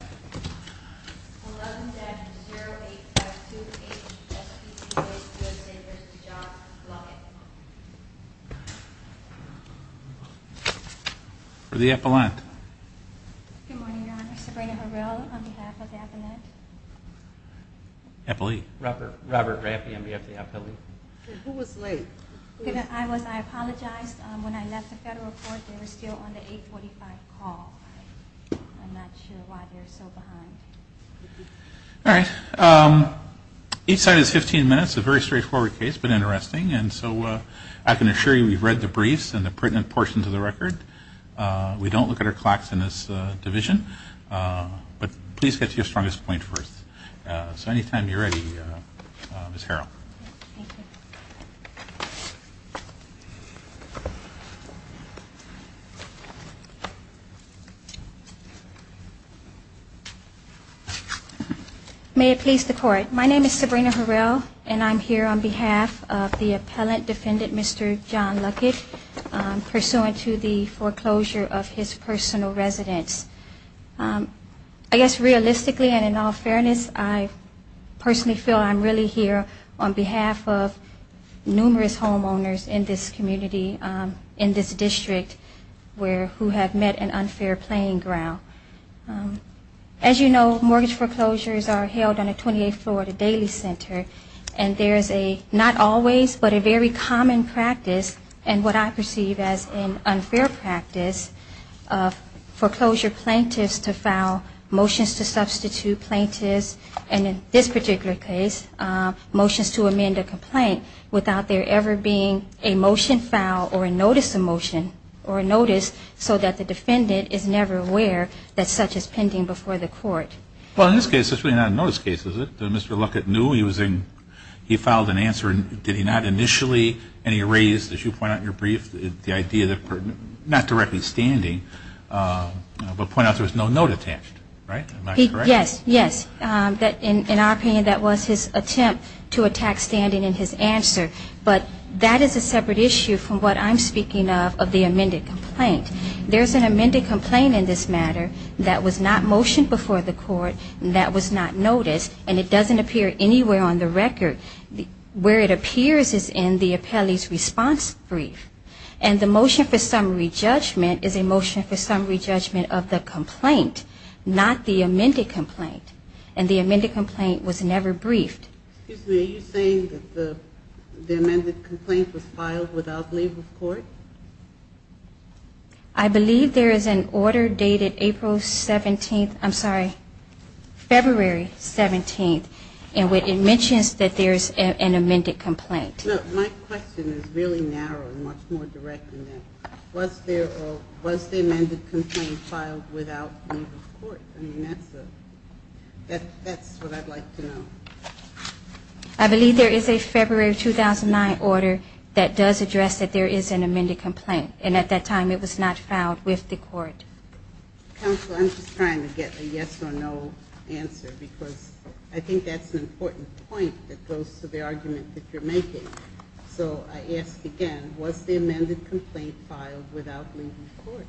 11-08528 SBBC Bank USA v. John Luckett Good morning, Your Honor. Sabrina Harrell on behalf of the Appellant. Robert Raffey on behalf of the Appellant. Who was late? I apologize. When I left the Federal Court, they were still on the 845 call. I'm not sure why they're so behind. All right. Each side has 15 minutes. It's a very straightforward case, but interesting. And so I can assure you we've read the briefs and the pertinent portions of the record. We don't look at our clacks in this division. But please get to your strongest point first. So anytime you're ready, Ms. Harrell. May it please the Court. My name is Sabrina Harrell, and I'm here on behalf of the Appellant defendant, Mr. John Luckett, pursuant to the foreclosure of his personal residence. I guess realistically and in all fairness, I personally feel I'm really here on behalf of numerous homeowners in this community, in this district who have met an unfair playing ground. As you know, mortgage foreclosures are held on the 28th floor of the Daily Center. And there is a not always, but a very common practice, and what I perceive as an unfair practice, of foreclosure plaintiffs to file motions to substitute plaintiffs, and in this particular case, motions to amend a complaint, without there ever being a motion filed or a notice of motion or a notice so that the defendant is never aware that such is pending before the Court. Well, in this case, it's really not a notice case, is it? Did Mr. Luckett know he was in? He filed an answer. Did he not initially, and he raised, as you point out in your brief, the idea that not directly standing, but point out there was no note attached, right? Am I correct? Yes, yes. In our opinion, that was his attempt to attack standing in his answer. But that is a separate issue from what I'm speaking of, of the amended complaint. There's an amended complaint in this matter that was not motioned before the Court, that was not noticed, and it doesn't appear anywhere on the record. Where it appears is in the appellee's response brief, and the motion for summary judgment is a motion for summary judgment of the complaint, not the amended complaint, and the amended complaint was never briefed. Excuse me. Are you saying that the amended complaint was filed without leave of court? I believe there is an order dated April 17th, I'm sorry, February 17th, and it mentions that there is an amended complaint. My question is really narrow and much more direct than that. Was the amended complaint filed without leave of court? I mean, that's what I'd like to know. I believe there is a February 2009 order that does address that there is an amended complaint. And at that time it was not filed with the Court. Counsel, I'm just trying to get a yes or no answer, because I think that's an important point that goes to the argument that you're making. So I ask again, was the amended complaint filed without leave of court?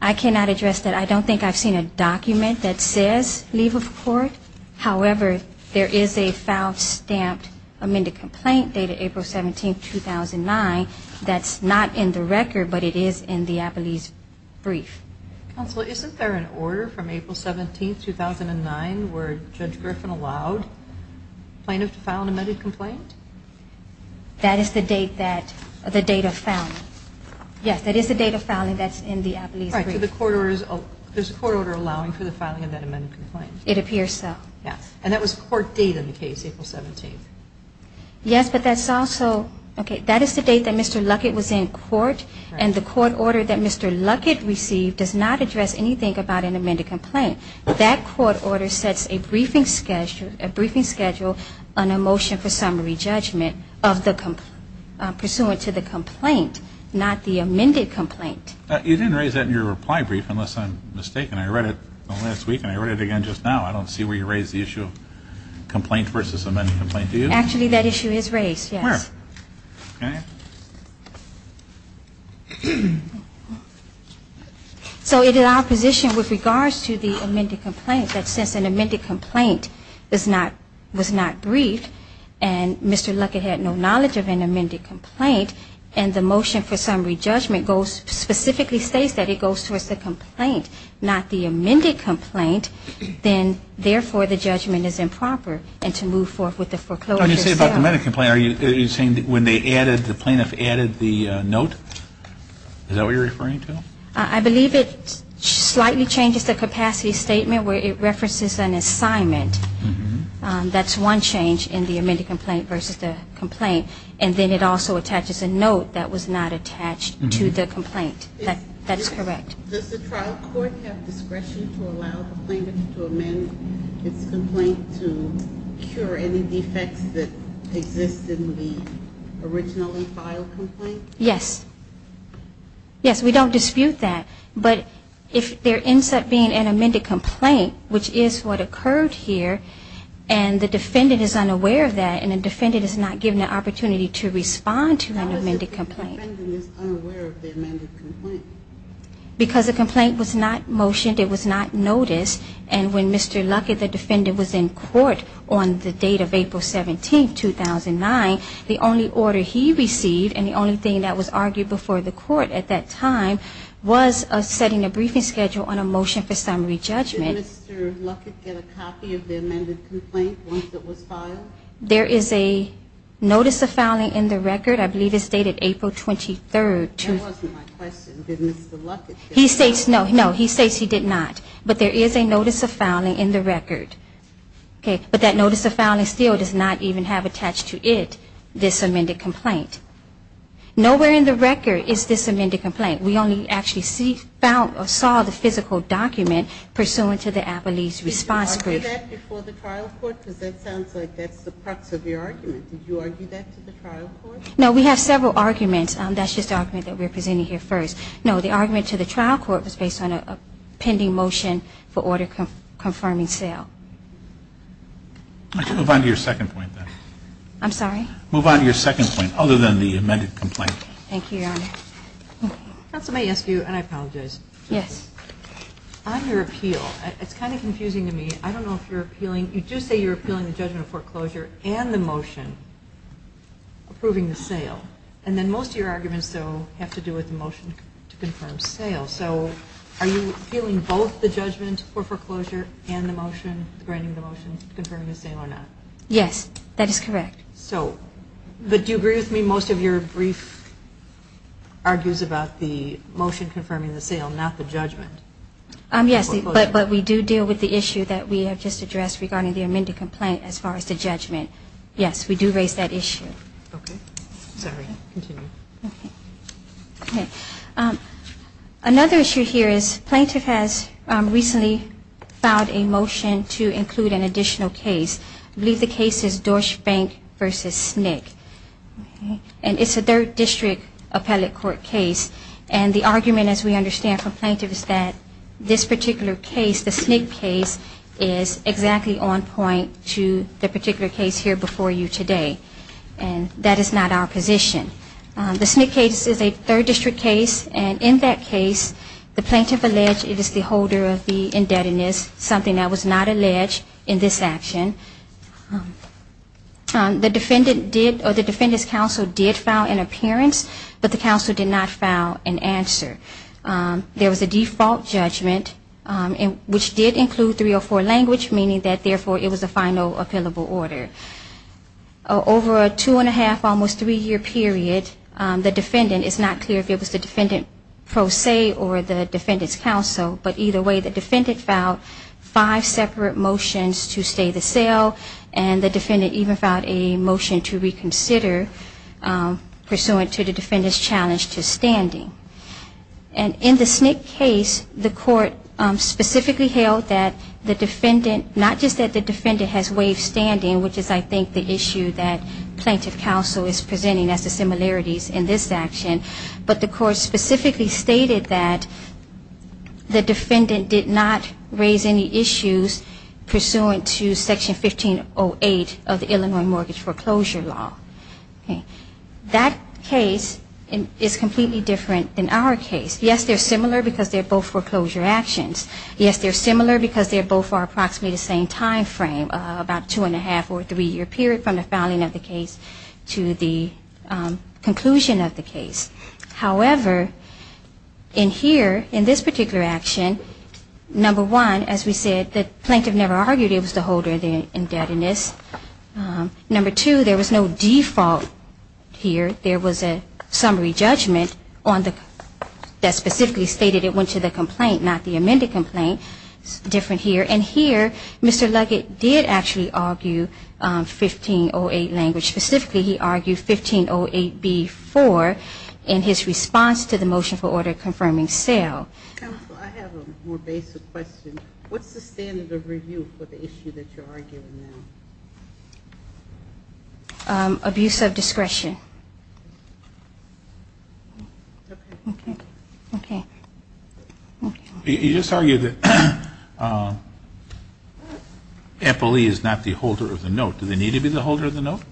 I cannot address that. I don't think I've seen a document that says leave of court. However, there is a filed, stamped, amended complaint dated April 17th, 2009, that's not in the record, but it is in the Applebee's brief. Counsel, isn't there an order from April 17th, 2009, where Judge Griffin allowed plaintiffs to file an amended complaint? That is the date that the data found. Yes, that is the date of filing that's in the Applebee's brief. All right, so there's a court order allowing for the filing of that amended complaint. It appears so. Yes. And that was a court date in the case, April 17th. Yes, but that's also, okay, that is the date that Mr. Luckett was in court, and the court order that Mr. Luckett received does not address anything about an amended complaint. That court order sets a briefing schedule on a motion for summary judgment of the, pursuant to the complaint, not the amended complaint. You didn't raise that in your reply brief, unless I'm mistaken. I read it last week, and I read it again just now. I don't see where you raised the issue of complaint versus amended complaint. Do you? Actually, that issue is raised, yes. Where? Okay. So it is our position, with regards to the amended complaint, that since an amended complaint was not briefed, and Mr. Luckett had no knowledge of an amended complaint, and the motion for summary judgment specifically states that it goes towards the complaint, not the amended complaint, then, therefore, the judgment is improper. And to move forth with the foreclosure itself. When you say about the amended complaint, are you saying that when they added, the plaintiff added the note? Is that what you're referring to? I believe it slightly changes the capacity statement, where it references an assignment. That's one change in the amended complaint versus the complaint. And then it also attaches a note that was not attached to the complaint. That's correct. Does the trial court have discretion to allow the plaintiff to amend its complaint to cure any defects that exist in the originally filed complaint? Yes. Yes, we don't dispute that. But if there ends up being an amended complaint, which is what occurred here, and the defendant is unaware of that, and the defendant is not given the opportunity to respond to an amended complaint. How is it that the defendant is unaware of the amended complaint? Because the complaint was not motioned, it was not noticed, and when Mr. Luckett, the defendant, was in court on the date of April 17, 2009, the only order he received and the only thing that was argued before the court at that time was setting a briefing schedule on a motion for summary judgment. Did Mr. Luckett get a copy of the amended complaint once it was filed? There is a notice of filing in the record. I believe it's dated April 23. That wasn't my question. Did Mr. Luckett get a copy? No, he states he did not. But there is a notice of filing in the record. But that notice of filing still does not even have attached to it this amended complaint. Nowhere in the record is this amended complaint. We only actually saw the physical document pursuant to the appellee's response brief. Did you argue that before the trial court? Because that sounds like that's the crux of your argument. Did you argue that to the trial court? No, we have several arguments. That's just the argument that we're presenting here first. No, the argument to the trial court was based on a pending motion for order confirming sale. I can move on to your second point, then. I'm sorry? Move on to your second point other than the amended complaint. Thank you, Your Honor. Counsel may ask you, and I apologize. Yes. On your appeal, it's kind of confusing to me. I don't know if you're appealing. You do say you're appealing the judgment of foreclosure and the motion approving the sale. And then most of your arguments, though, have to do with the motion to confirm sale. So are you appealing both the judgment for foreclosure and the motion, granting the motion, confirming the sale or not? Yes, that is correct. So do you agree with me? Most of your brief argues about the motion confirming the sale, not the judgment. Yes, but we do deal with the issue that we have just addressed regarding the amended complaint as far as the judgment. Yes, we do raise that issue. Okay. Sorry. Continue. Okay. Another issue here is plaintiff has recently filed a motion to include an additional case. I believe the case is Dorschbank v. Snick. And it's a third district appellate court case. And the argument, as we understand from plaintiffs, that this particular case, the Snick case, is exactly on point to the particular case here before you today. And that is not our position. The Snick case is a third district case. And in that case, the plaintiff alleged it is the holder of the indebtedness, something that was not alleged in this action. The defendant did, or the defendant's counsel did file an appearance. But the counsel did not file an answer. There was a default judgment, which did include 304 language, meaning that, therefore, it was a final appealable order. Over a two-and-a-half, almost three-year period, the defendant, it's not clear if it was the defendant pro se or the defendant's counsel. But either way, the defendant filed five separate motions to stay the sale. And the defendant even filed a motion to reconsider, pursuant to the defendant's challenge to standing. And in the Snick case, the court specifically held that the defendant, not just that the defendant has waived standing, which is I think the issue that plaintiff counsel is presenting as the similarities in this action, but the court specifically stated that the defendant did not raise any issues pursuant to Section 1508 of the Illinois Mortgage Foreclosure Law. That case is completely different than our case. Yes, they're similar because they're both foreclosure actions. Yes, they're similar because they both are approximately the same time frame, about a two-and-a-half or three-year period from the filing of the case to the conclusion of the case. However, in here, in this particular action, number one, as we said, the plaintiff never argued it was the holder, the indebtedness. Number two, there was no default here. There was a summary judgment that specifically stated it went to the complaint, not the amended complaint. It's different here. And here, Mr. Luggett did actually argue 1508 language. Specifically, he argued 1508b-4 in his response to the motion for order confirming sale. Counsel, I have a more basic question. What's the standard of review for the issue that you're arguing now? Abuse of discretion. Okay. Okay. You just argued that FLE is not the holder of the note. Do they need to be the holder of the note?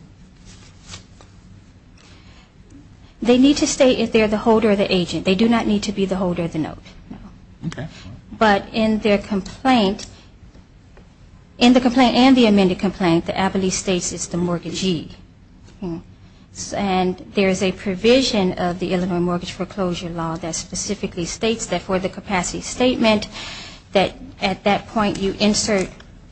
They need to stay if they're the holder of the agent. They do not need to be the holder of the note. Okay. But in their complaint, in the complaint and the amended complaint, the FLE states it's the mortgagee. And there is a provision of the Illinois Mortgage Foreclosure Law that states that for the capacity statement that at that point you insert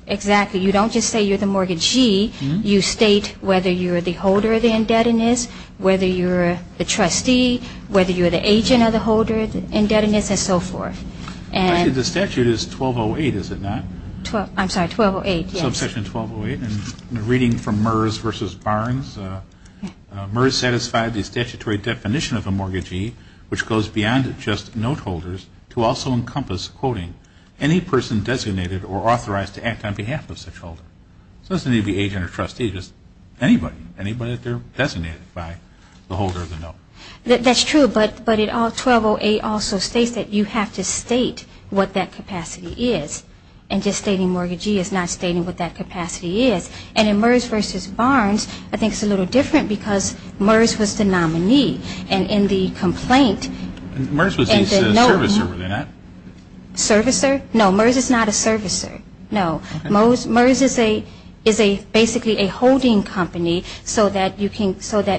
exactly. You don't just say you're the mortgagee. You state whether you're the holder of the indebtedness, whether you're the trustee, whether you're the agent of the holder of the indebtedness, and so forth. Actually, the statute is 1208, is it not? I'm sorry, 1208, yes. Subsection 1208. And reading from Merz v. Barnes, Merz satisfied the statutory definition of a mortgagee, which goes beyond just note holders to also encompass, quoting, any person designated or authorized to act on behalf of such holder. So it doesn't need to be agent or trustee, just anybody, anybody that they're designated by the holder of the note. That's true, but 1208 also states that you have to state what that capacity is. And just stating mortgagee is not stating what that capacity is. And in Merz v. Barnes, I think it's a little different because Merz was the nominee. And in the complaint – Merz was the servicer, were they not? Servicer? No, Merz is not a servicer, no. Merz is basically a holding company so that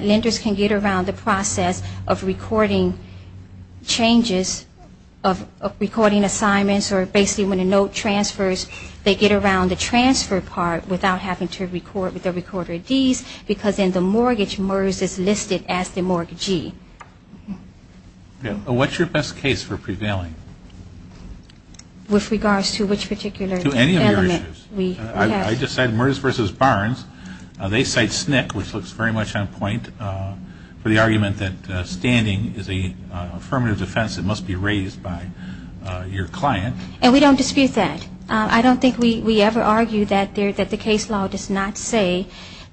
lenders can get around the process of recording changes, of recording assignments, or basically when a note transfers, they get around the transfer part without having to record with the recorder of deeds because in the mortgage, Merz is listed as the mortgagee. What's your best case for prevailing? With regards to which particular element? To any of your issues. I just said Merz v. Barnes. They cite SNCC, which looks very much on point, for the argument that standing is an affirmative defense that must be raised by your client. And we don't dispute that. I don't think we ever argue that the case law does not say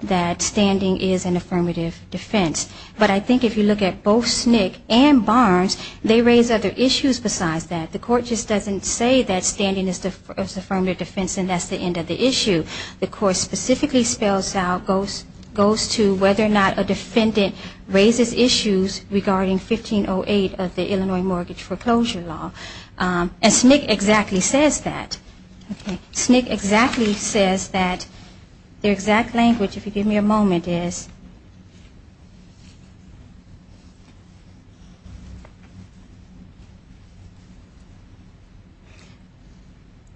that standing is an affirmative defense. But I think if you look at both SNCC and Barnes, they raise other issues besides that. The court just doesn't say that standing is an affirmative defense and that's the end of the issue. The court specifically spells out, goes to whether or not a defendant raises issues regarding 1508 of the Illinois Mortgage Foreclosure Law. And SNCC exactly says that. SNCC exactly says that. Their exact language, if you give me a moment, is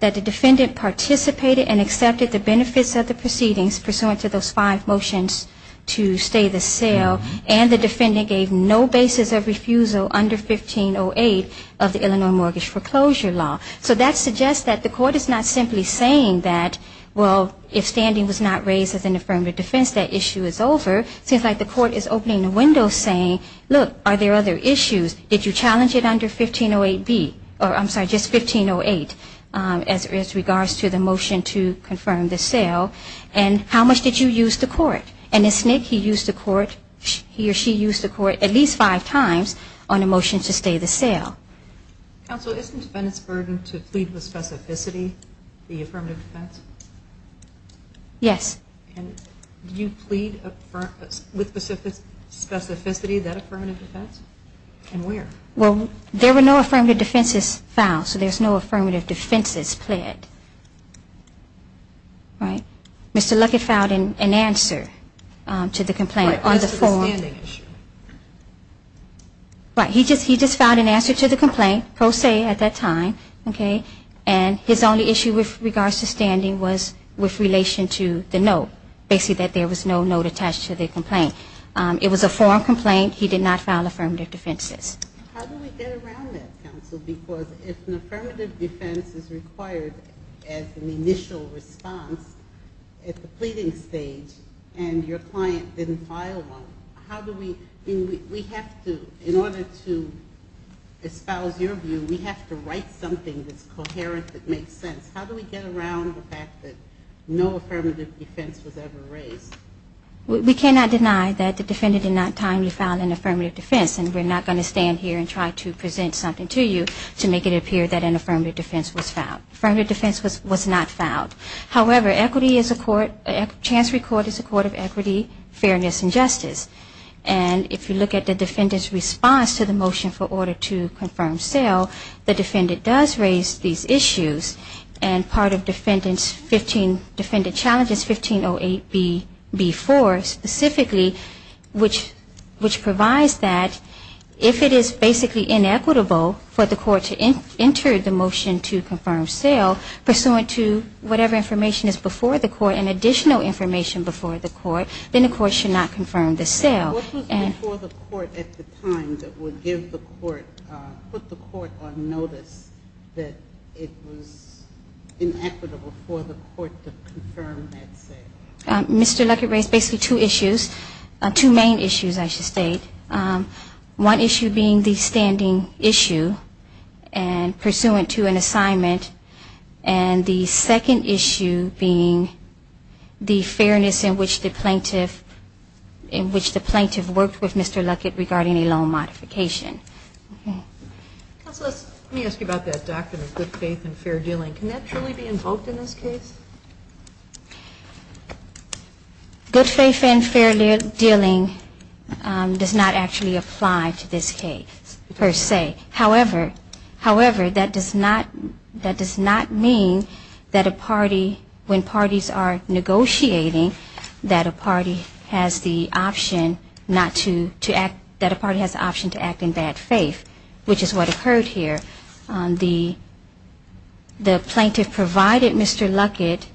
that the defendant participated and accepted the benefits of the proceedings pursuant to those five motions to stay the sale and the defendant gave no basis of refusal under 1508 of the Illinois Mortgage Foreclosure Law. So that suggests that the court is not simply saying that, well, if standing was not raised as an affirmative defense, that issue is over. It seems like the court is opening a window saying, look, are there other issues? Did you challenge it under 1508B? Or, I'm sorry, just 1508 as regards to the motion to confirm the sale. And how much did you use the court? And in SNCC he used the court, he or she used the court at least five times on a motion to stay the sale. Counsel, isn't the defendant's burden to plead with specificity the affirmative defense? Yes. And you plead with specificity that affirmative defense? And where? Well, there were no affirmative defenses filed, so there's no affirmative defenses pled. All right. Mr. Luckett filed an answer to the complaint on the form. What was the standing issue? Right. He just filed an answer to the complaint, pro se at that time, okay, and his only issue with regards to standing was with relation to the note, basically that there was no note attached to the complaint. It was a form complaint. He did not file affirmative defenses. How do we get around that, counsel? Because if an affirmative defense is required as an initial response at the pleading stage and your client didn't file one, how do we, we have to, in order to espouse your view, we have to write something that's coherent that makes sense. How do we get around the fact that no affirmative defense was ever raised? We cannot deny that the defendant did not timely file an affirmative defense, and we're not going to stand here and try to present something to you to make it appear that an affirmative defense was filed. Affirmative defense was not filed. However, equity is a court, chancery court is a court of equity, fairness, and justice, and if you look at the defendant's response to the motion for order to confirm sale, the defendant does raise these issues, and part of defendant's 15, 1508B4 specifically, which provides that if it is basically inequitable for the court to enter the motion to confirm sale pursuant to whatever information is before the court and additional information before the court, then the court should not confirm the sale. What was before the court at the time that would give the court, put the court on notice that it was inequitable for the court to confirm that sale? Mr. Luckett raised basically two issues, two main issues, I should state. One issue being the standing issue pursuant to an assignment, and the second issue being the fairness in which the plaintiff worked with Mr. Luckett regarding a loan modification. Counsel, let me ask you about that doctrine of good faith and fair dealing. Can that truly be invoked in this case? Good faith and fair dealing does not actually apply to this case per se. However, that does not mean that a party, when parties are negotiating, that a party has the option to act in bad faith, which is what occurred here. The plaintiff provided Mr. Luckett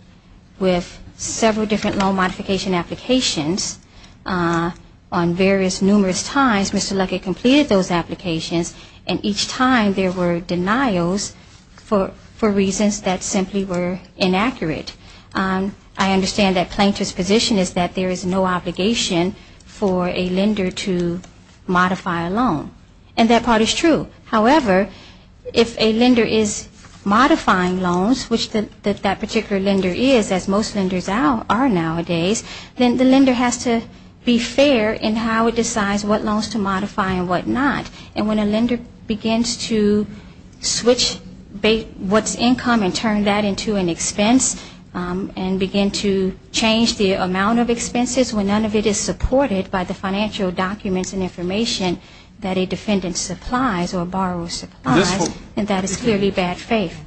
with several different loan modification applications on various numerous times. Mr. Luckett completed those applications, and each time there were denials for reasons that simply were inaccurate. I understand that plaintiff's position is that there is no obligation for a lender to modify a loan. And that part is true. However, if a lender is modifying loans, which that particular lender is, as most lenders are nowadays, then the lender has to be fair in how it decides what loans to modify and what not. And when a lender begins to switch what's income and turn that into an expense, and begin to change the amount of expenses when none of it is supported by the financial documents and information that a defendant supplies or borrows supplies, and that is clearly bad faith.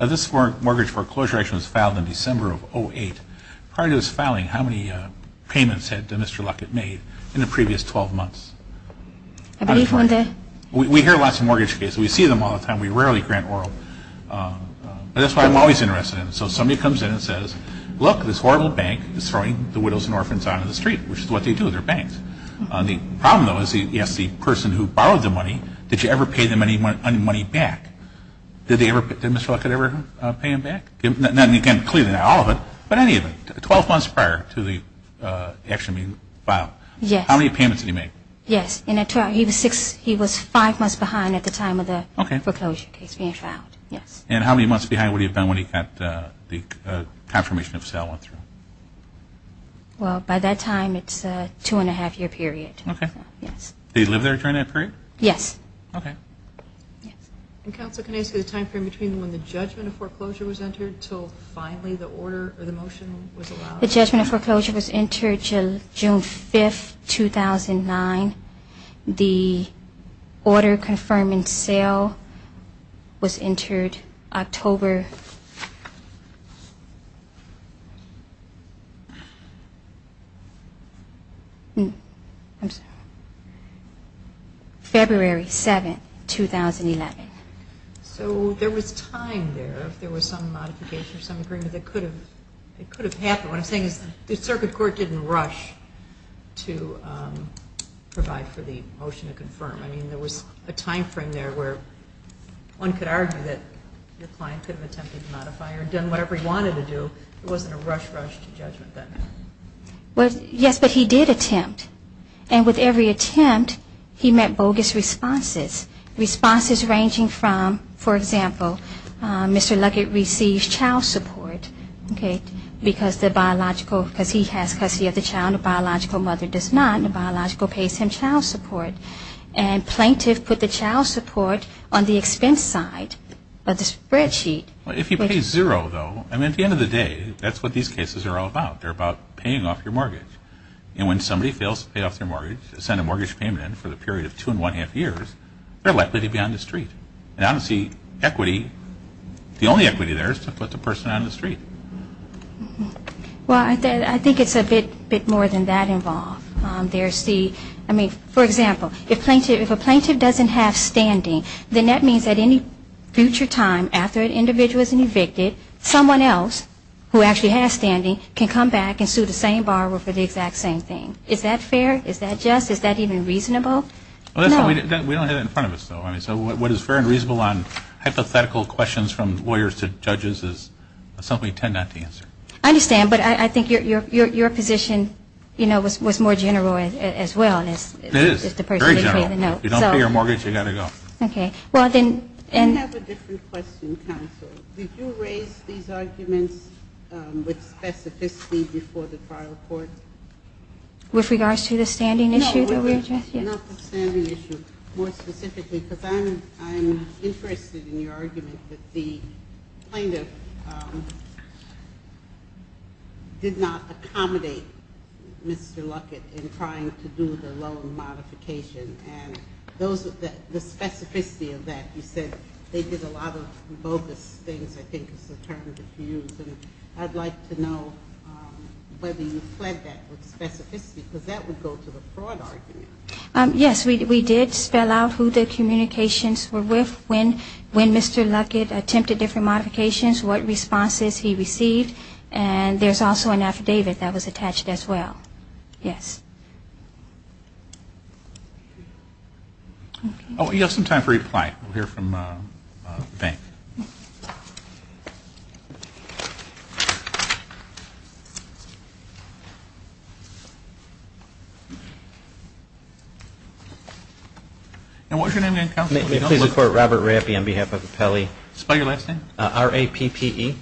This mortgage foreclosure action was filed in December of 2008. Prior to this filing, how many payments had Mr. Luckett made in the previous 12 months? I believe one day. We hear lots of mortgage cases. We see them all the time. We rarely grant oral. But that's why I'm always interested in it. So somebody comes in and says, look, this horrible bank is throwing the widows and orphans out on the street, which is what they do. They're banks. The problem, though, is he asks the person who borrowed the money, did you ever pay them any money back? Did Mr. Luckett ever pay them back? Not including all of it, but any of it. Twelve months prior to the action being filed. How many payments did he make? He was five months behind at the time of the foreclosure case being filed. And how many months behind would he have been when he got the confirmation of sale? Well, by that time, it's a two-and-a-half-year period. They lived there during that period? Yes. The judgment of foreclosure was entered June 5, 2009. The order confirming sale was entered October February 7, 2011. So there was time there, if there was some modification, some agreement that could have happened. What I'm saying is the circuit court didn't rush to provide for the motion to confirm. I mean, there was a time frame there where one could argue that your client could have attempted to sell and done whatever he wanted to do. Yes, but he did attempt. And with every attempt, he met bogus responses, responses ranging from, for example, Mr. Luckett receives child support because he has custody of the child, and the biological mother does not, and the biological pays him child support. And plaintiff put the child support on the expense side of the spreadsheet. If he pays zero, though, I mean, at the end of the day, that's what these cases are all about. They're about paying off your mortgage. And when somebody fails to pay off their mortgage, to send a mortgage payment in for the period of two-and-a-half years, they're likely to be on the street. And honestly, equity, the only equity there is to put the person on the street. Well, I think it's a bit more than that involved. I mean, for example, if a plaintiff doesn't have standing, then that means at any future time, after an individual is evicted, someone else who actually has standing can come back and sue the same borrower for the exact same thing. Is that fair? Is that just? Is that even reasonable? We don't have that in front of us, though. I mean, so what is fair and reasonable on hypothetical questions from lawyers to judges is something we tend not to answer. I understand. But I think your position, you know, was more general as well. It is very general. If you don't pay your mortgage, you're going to go. I have a different question, counsel. Did you raise these arguments with specificity before the trial court? With regards to the standing issue that we're addressing? Not the standing issue. More specifically, because I'm interested in your argument that the plaintiff did not accommodate Mr. Luckett in trying to do the loan modification, and the specificity of that. You said they did a lot of bogus things, I think is the term to use, and I'd like to know whether you fled that with specificity, because that would go to the fraud argument. Yes. We did spell out who the communications were with, when Mr. Luckett attempted different modifications, what responses he received, and there's also an affidavit that was attached as well. Yes. Oh, we have some time for reply. We'll hear from Van. And what's your name again, counsel? Robert Rappi on behalf of Apelli. Spell your last name. R-A-P-P-E.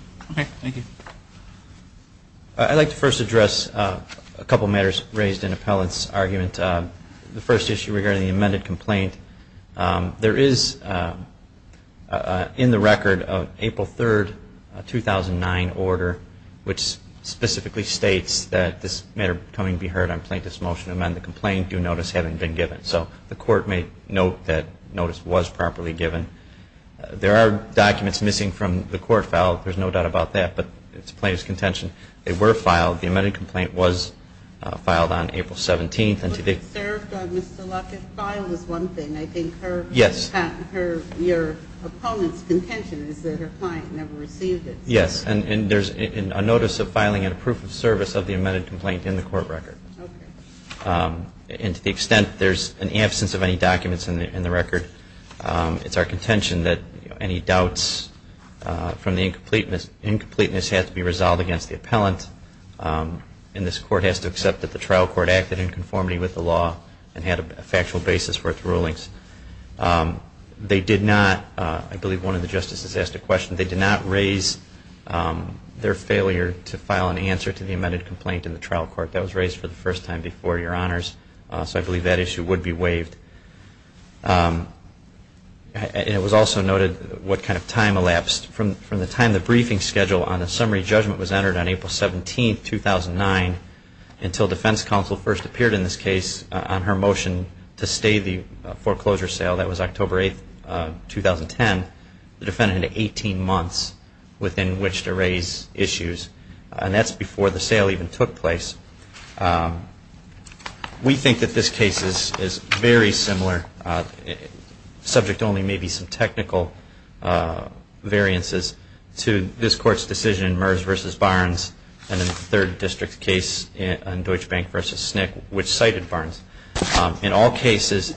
I'd like to first address a couple matters raised in Appellant's argument. The first issue regarding the amended complaint, there is in the record an April 3, 2009 order, which specifically states that this matter coming to be heard on plaintiff's motion to amend the complaint, due notice having been given. So the court may note that notice was properly given. There are documents missing from the court file, there's no doubt about that, but it's a plaintiff's contention. They were filed. The amended complaint was filed on April 17. I think her opponent's contention is that her client never received it. Yes. And there's a notice of filing and a proof of service of the amended complaint in the court record. And to the extent there's an absence of any documents in the record, it's our contention that any doubts from the incompleteness have to be resolved against the appellant, and this court has to accept that the trial court acted in conformity with the law and had a factual basis for its rulings. I believe one of the justices asked a question. They did not raise their failure to file an answer to the amended complaint in the trial court. That was raised for the first time before your honors, so I believe that issue would be waived. It was also noted what kind of time elapsed. From the time the briefing schedule on the summary judgment was entered on April 17, 2009, until defense counsel first appeared in this case on her motion to stay the foreclosure sale, that was October 8, 2010, the defendant had 18 months within which to raise issues, and that's before the sale even took place. We think that this case is very similar, subject only maybe some technical variances, to this court's decision in Mears v. Barnes and the third district case in Deutsche Bank v. SNCC, which cited Barnes. In all cases,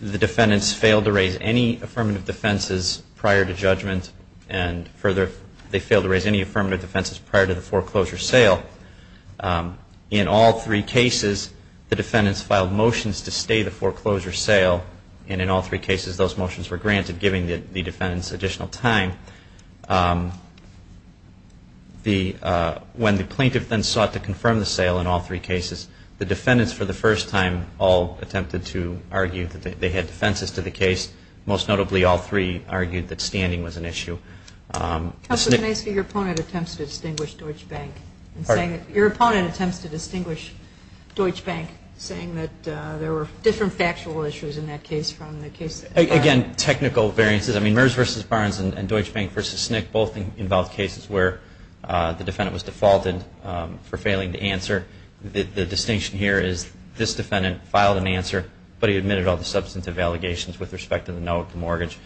the defendants failed to raise any affirmative defenses prior to judgment, and further, they failed to raise any affirmative defenses prior to the foreclosure sale. In all three cases, the defendants filed motions to stay the foreclosure sale, and in all three cases, those motions were granted, giving the defendants additional time. When the plaintiff then sought to confirm the sale in all three cases, the defendants for the first time all attempted to argue that they had defenses to the case. Most notably, all three argued that standing was an issue. Your opponent attempts to distinguish Deutsche Bank, saying that there were different factual issues in that case. Again, technical variances, Mears v. Barnes and Deutsche Bank v. SNCC both involved cases where the defendant was defaulted for failing to answer. The distinction here is this defendant filed an answer, but he admitted all the substantive allegations with respect to the note, the mortgage,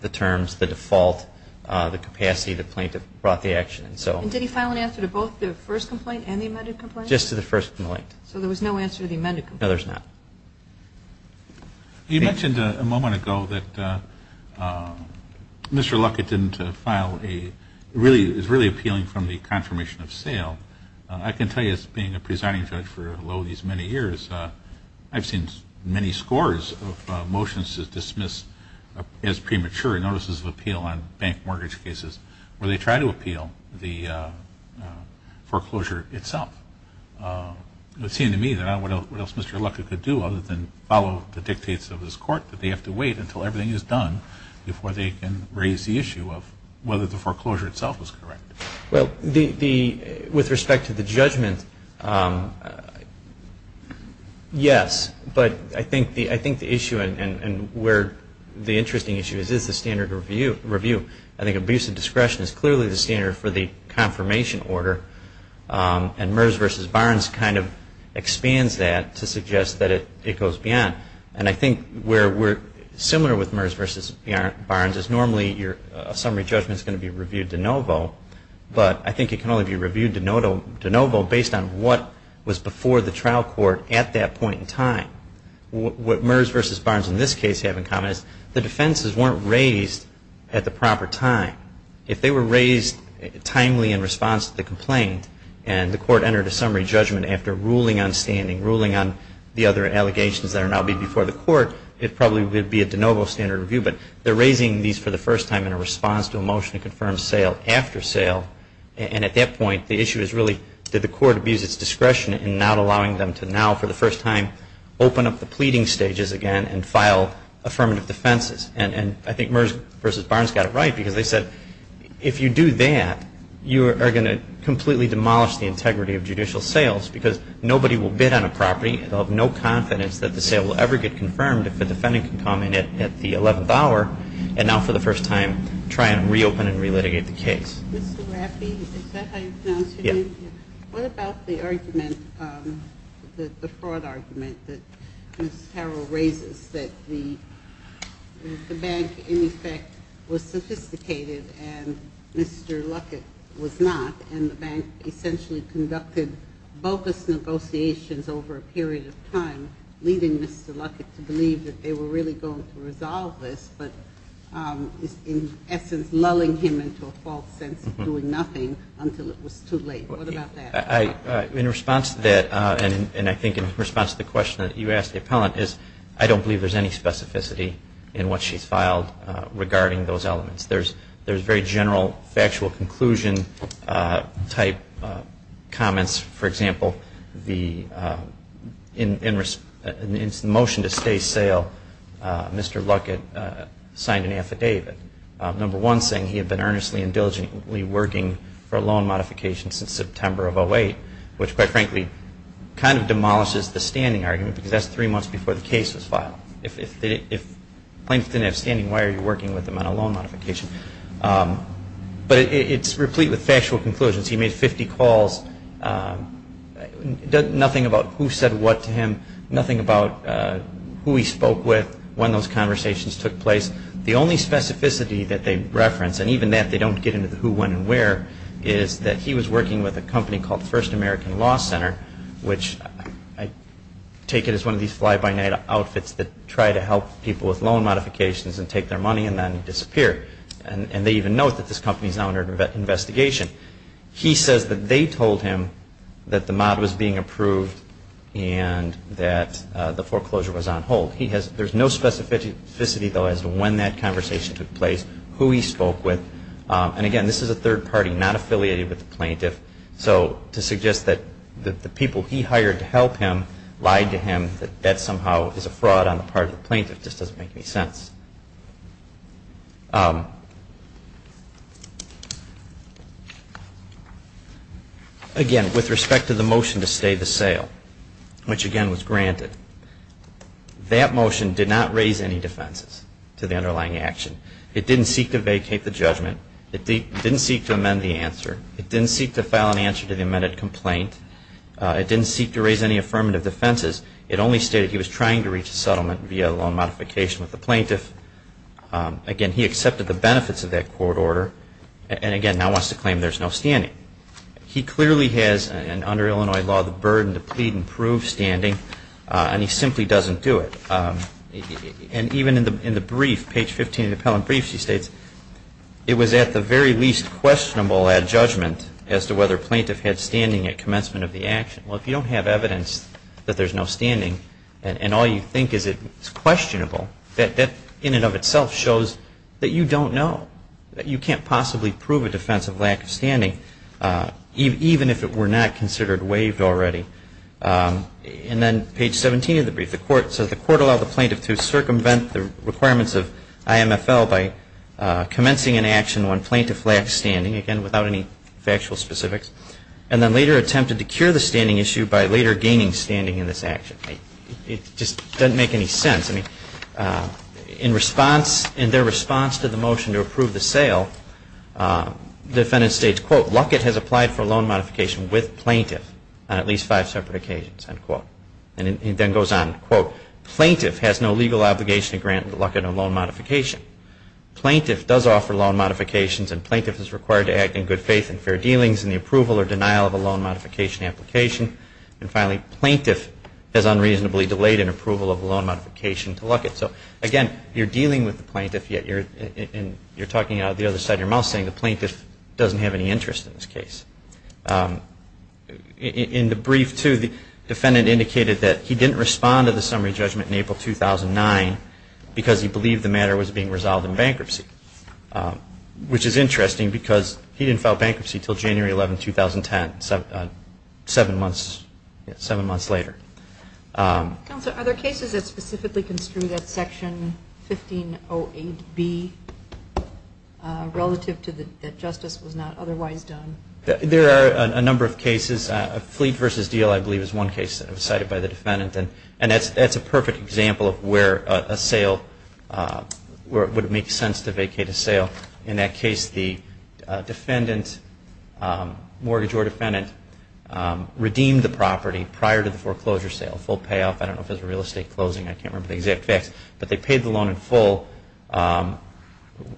the terms, the default, the capacity, the plaintiff brought the action. And did he file an answer to both the first complaint and the amended complaint? Just to the first complaint. So there was no answer to the amended complaint? No, there's not. You mentioned a moment ago that Mr. Luckett didn't file a really, is really appealing from the confirmation of sale. I can tell you as being a presiding judge for lowly as many years, I've seen many scores of motions dismissed as premature notices of appeal on bank mortgage cases where they try to appeal the foreclosure itself. It would seem to me that what else Mr. Luckett could do other than follow the dictates of this court, that they have to wait until everything is done before they can raise the issue of whether the foreclosure itself was correct. Well, with respect to the judgment, yes. But I think the issue and where the interesting issue is, is the standard review. I think abuse of discretion is clearly the standard for the confirmation order. And MERS versus Barnes kind of expands that to suggest that it goes beyond. And I think where we're similar with MERS versus Barnes is normally a summary judgment is going to be reviewed de novo. But I think it can only be reviewed de novo based on what was before the trial court at that point in time. What MERS versus Barnes in this case have in common is the defenses weren't raised at the proper time. If they were raised timely in response to the complaint and the court entered a summary judgment after ruling on standing, ruling on the other allegations that are now before the court, it probably would be a de novo standard review. But they're raising these for the first time in a response to a motion to confirm sale after sale. And at that point, the issue is really did the court abuse its discretion in not allowing them to now for the first time open up the pleading stages again and file affirmative defenses. And I think MERS versus Barnes got it right because they said if you do that, you are going to completely demolish the integrity of judicial sales because nobody will bid on a property. They'll have no confidence that the sale will ever get confirmed if a defendant can come in at the 11th hour and now for the first time try and reopen and re-litigate the case. Mr. Raffi, is that how you pronounce your name? Yes. What about the argument, the fraud argument that Ms. Carroll raises that the bank in effect was sophisticated and Mr. Luckett was not, and the bank essentially conducted bogus negotiations over a period of time, leading Mr. Luckett to believe that they were really going to resolve this, but in essence lulling him into a false sense of doing nothing until it was too late. What about that? In response to that, and I think in response to the question that you asked the appellant, is I don't believe there's any specificity in what she's filed regarding those elements. There's very general factual conclusion type comments. For example, in the motion to stay sale, Mr. Luckett signed an affidavit. Number one saying he had been earnestly and diligently working for a loan modification since September of 08, which quite frankly kind of demolishes the standing argument because that's three months before the case was filed. If plaintiffs didn't have standing, why are you working with them on a loan modification? But it's replete with factual conclusions. He made 50 calls, nothing about who said what to him, nothing about who he spoke with, when those conversations took place. The only specificity that they reference, and even that they don't get into the who, when, and where, is that he was working with a company called First American Law Center, which I take it as one of these fly-by-night outfits that try to help people with loan modifications and take their money and then disappear. And they even note that this company is now under investigation. He says that they told him that the mod was being approved and that the foreclosure was on hold. There's no specificity, though, as to when that conversation took place, who he spoke with. And again, this is a third party, not affiliated with the plaintiff. So to suggest that the people he hired to help him lied to him, that that somehow is a fraud on the part of the plaintiff, just doesn't make any sense. Again, with respect to the motion to stay the sale, which again was granted, that motion did not raise any defenses to the underlying action. It didn't seek to vacate the judgment. It didn't seek to amend the answer. It didn't seek to file an answer to the amended complaint. It didn't seek to raise any affirmative defenses. It only stated he was trying to reach a settlement via loan modification with the plaintiff. Again, he accepted the benefits of that court order. And again, now wants to claim there's no standing. He clearly has, under Illinois law, the burden to plead and prove standing, and he simply doesn't do it. And even in the brief, page 15 of the appellant brief, she states, it was at the very least questionable at judgment as to whether a plaintiff had standing at commencement of the action. Well, if you don't have evidence that there's no standing, and all you think is it's questionable, that in and of itself shows that you don't know. You can't possibly prove a defense of lack of standing, even if it were not considered waived already. And then page 17 of the brief, the court says, the court allowed the plaintiff to circumvent the requirements of IMFL by commencing an action on plaintiff lack of standing, again, without any factual specifics, and then later attempted to cure the standing issue by later gaining standing in this action. It just doesn't make any sense. In their response to the motion to approve the sale, the defendant states, Luckett has applied for a loan modification with plaintiff on at least five separate occasions. And it then goes on, quote, plaintiff has no legal obligation to grant Luckett a loan modification. Plaintiff does offer loan modifications, and plaintiff is required to act in good faith and fair dealings in the approval or denial of a loan modification application. And finally, plaintiff has unreasonably delayed an approval of a loan modification to Luckett. So again, you're dealing with the plaintiff, yet you're talking out of the other side of your mouth, saying the plaintiff doesn't have any interest in this case. In the brief, too, the defendant indicated that he didn't respond to the summary judgment in April 2009 because he believed the matter was being resolved in bankruptcy, which is interesting because he didn't file bankruptcy until January 11, 2010, seven months later. Counsel, are there cases that specifically construe that Section 1508B relative to that justice was not otherwise done? There are a number of cases. A fleet versus deal, I believe, is one case that was cited by the defendant, and that's a perfect example of where a sale would make sense to vacate a sale. In that case, the defendant, mortgage or defendant, redeemed the property prior to the foreclosure sale, full payoff. I don't know if it was real estate closing. I can't remember the exact facts. But they paid the loan in full.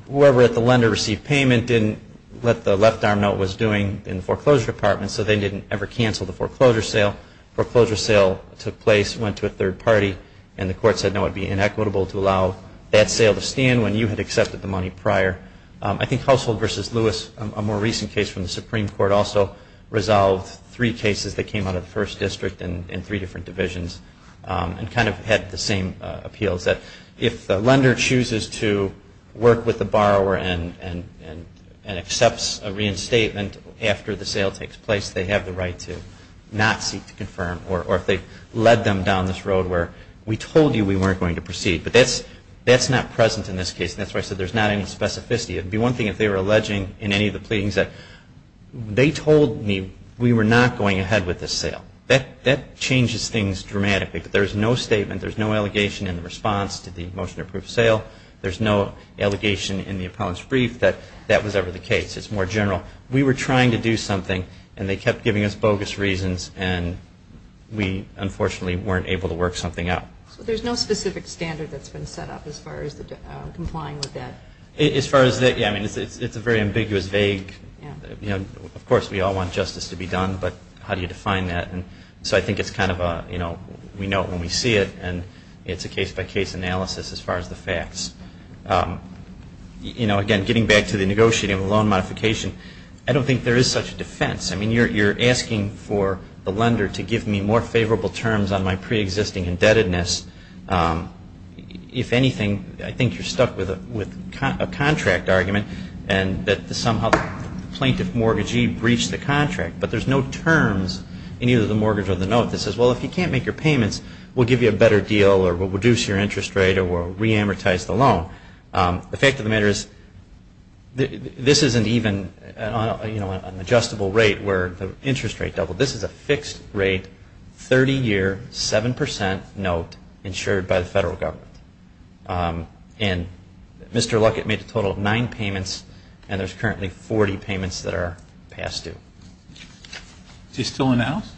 Whoever at the lender received payment didn't let the left arm know what it was doing in the foreclosure department, so they didn't ever cancel the foreclosure sale. Foreclosure sale took place, went to a third party, and the court said no, it would be inequitable to allow that sale to stand when you had accepted the money prior. I think Household versus Lewis, a more recent case from the Supreme Court, also resolved three cases that came out of the first district in three different divisions and kind of had the same appeals, that if the lender chooses to work with the borrower and accepts a reinstatement after the sale takes place, they have the right to not seek to confirm or if they led them down this road where we told you we weren't going to proceed. But that's not present in this case, and that's why I said there's not any specificity. It would be one thing if they were alleging in any of the pleadings that they told me we were not going ahead with this sale. That changes things dramatically. There's no statement, there's no allegation in the response to the motion to approve sale. There's no allegation in the appellant's brief that that was ever the case. It's more general. We were trying to do something, and they kept giving us bogus reasons, and we unfortunately weren't able to work something out. So there's no specific standard that's been set up as far as complying with that? Yeah, I mean, it's a very ambiguous, vague, you know, of course we all want justice to be done, but how do you define that? So I think it's kind of a, you know, we know it when we see it, and it's a case-by-case analysis as far as the facts. You know, again, getting back to the negotiating of a loan modification, I don't think there is such a defense. I mean, you're asking for the lender to give me more favorable terms on my preexisting indebtedness. If anything, I think you're stuck with a contract argument, and that somehow the plaintiff mortgagee breached the contract. But there's no terms in either the mortgage or the note that says, well, if you can't make your payments, we'll give you a better deal, or we'll reduce your interest rate, or we'll reamortize the loan. The fact of the matter is, this isn't even, you know, an adjustable rate where the interest rate doubled. This is a fixed rate, 30-year, 7% note insured by the federal government. And Mr. Luckett made a total of nine payments, and there's currently 40 payments that are past due. Is he still in the House?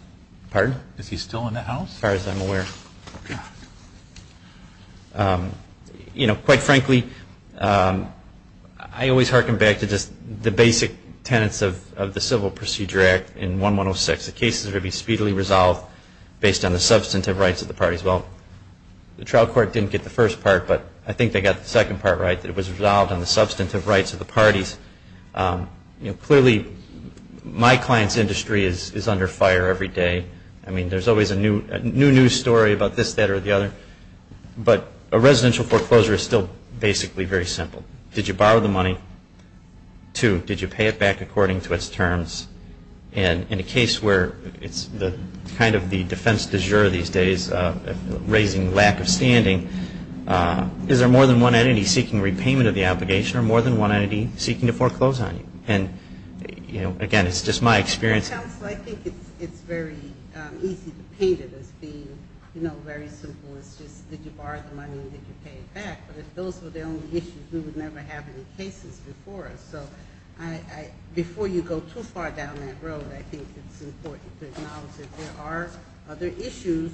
You know, quite frankly, I always hearken back to just the basic tenets of the Civil Procedure Act in 1106. Cases would be speedily resolved based on the substantive rights of the parties. Well, the trial court didn't get the first part, but I think they got the second part right. It was resolved on the substantive rights of the parties. Clearly, my client's industry is under fire every day. I mean, there's always a new news story about this, that, or the other. But a residential foreclosure is still basically very simple. Did you borrow the money? Two. Did you pay it back according to its terms? And in a case where it's kind of the defense du jour these days, raising lack of standing, is there more than one entity seeking repayment of the obligation, or more than one entity seeking to foreclose on you? And, you know, again, it's just my experience. Counsel, I think it's very easy to paint it as being, you know, very simple. It's just, did you borrow the money, and did you pay it back? But if those were the only issues, we would never have any cases before us. So before you go too far down that road, I think it's important to acknowledge that there are other issues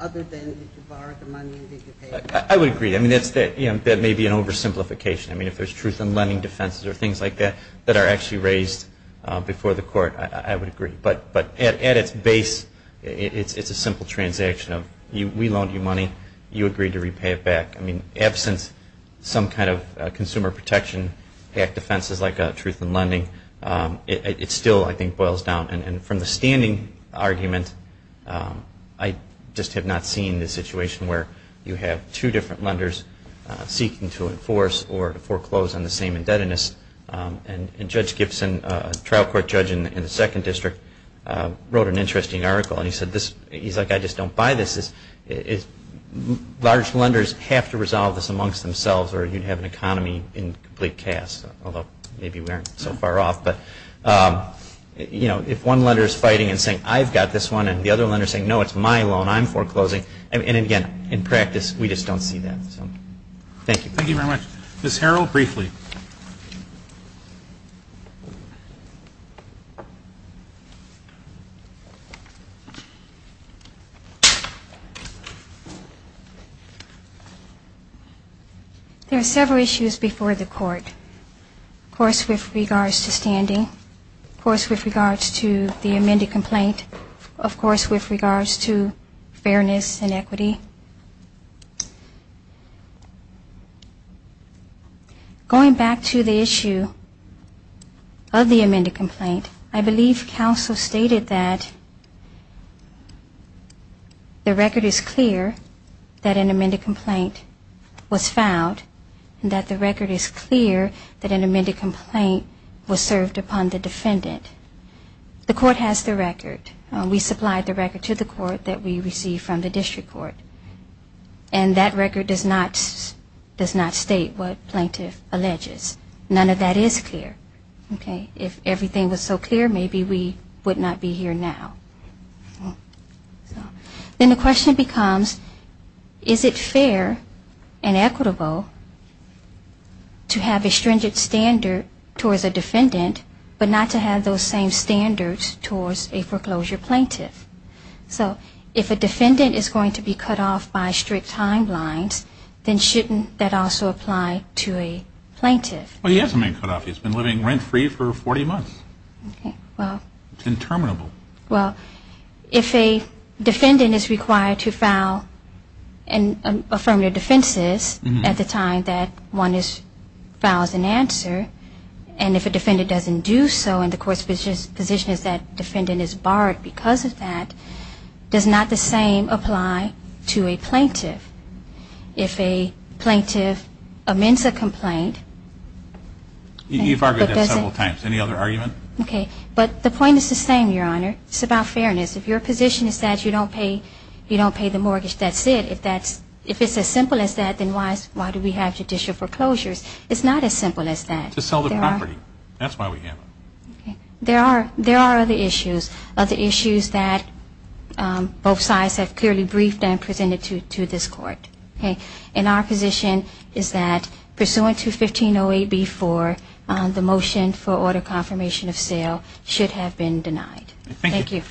other than, did you borrow the money, and did you pay it back? I would agree. I mean, that may be an oversimplification. I mean, if there's truth in lending defenses or things like that that are actually raised before the court, I would agree. But at its base, it's a simple transaction of, we loaned you money. You agreed to repay it back. I mean, absence of some kind of consumer protection act defenses like truth in lending, it still, I think, boils down. And from the standing argument, I just have not seen the situation where you have two different lenders seeking to enforce or foreclose on the same indebtedness. And Judge Gibson, a trial court judge in the Second District, wrote an interesting article. And he said, he's like, I just don't buy this. Large lenders have to resolve this amongst themselves, or you'd have an economy in complete chaos. Although, maybe we aren't so far off. But if one lender is fighting and saying, I've got this one, and the other lender is saying, no, it's my loan, I'm foreclosing. And again, in practice, we just don't see that. Thank you. Thank you very much. Ms. Harrell, briefly. There are several issues before the court. Of course, with regards to standing. Of course, with regards to the amended complaint. Of course, with regards to fairness and equity. Going back to the issue of the amended complaint, I believe counsel stated that the record is clear that an amended complaint was filed, and that the record is clear that an amended complaint was served upon the defendant. The court has the record. We supplied the record to the court that we received from the district court. And that record does not state what plaintiff alleges. None of that is clear. If everything was so clear, maybe we would not be here now. Then the question becomes, is it fair and equitable to have a stringent standard towards a defendant, but not to have those same standards towards a foreclosure plaintiff? So if a defendant is going to be cut off by strict timelines, then shouldn't that also apply to a plaintiff? Well, he hasn't been cut off. He's been living rent-free for 40 months. It's interminable. Well, if a defendant is required to file affirmative defenses at the time that one files an answer, and if a defendant doesn't do so and the court's position is that defendant is barred because of that, does not the same apply to a plaintiff? If a plaintiff amends a complaint... You've argued that several times. Any other argument? Okay. But the point is the same, Your Honor. It's about fairness. If your position is that you don't pay the mortgage, that's it. If it's as simple as that, then why do we have judicial foreclosures? It's not as simple as that. To sell the property. That's why we have them. There are other issues, other issues that both sides have clearly briefed and presented to this Court. And our position is that pursuant to 1508B4, the motion for order confirmation of sale should have been denied. Thank you.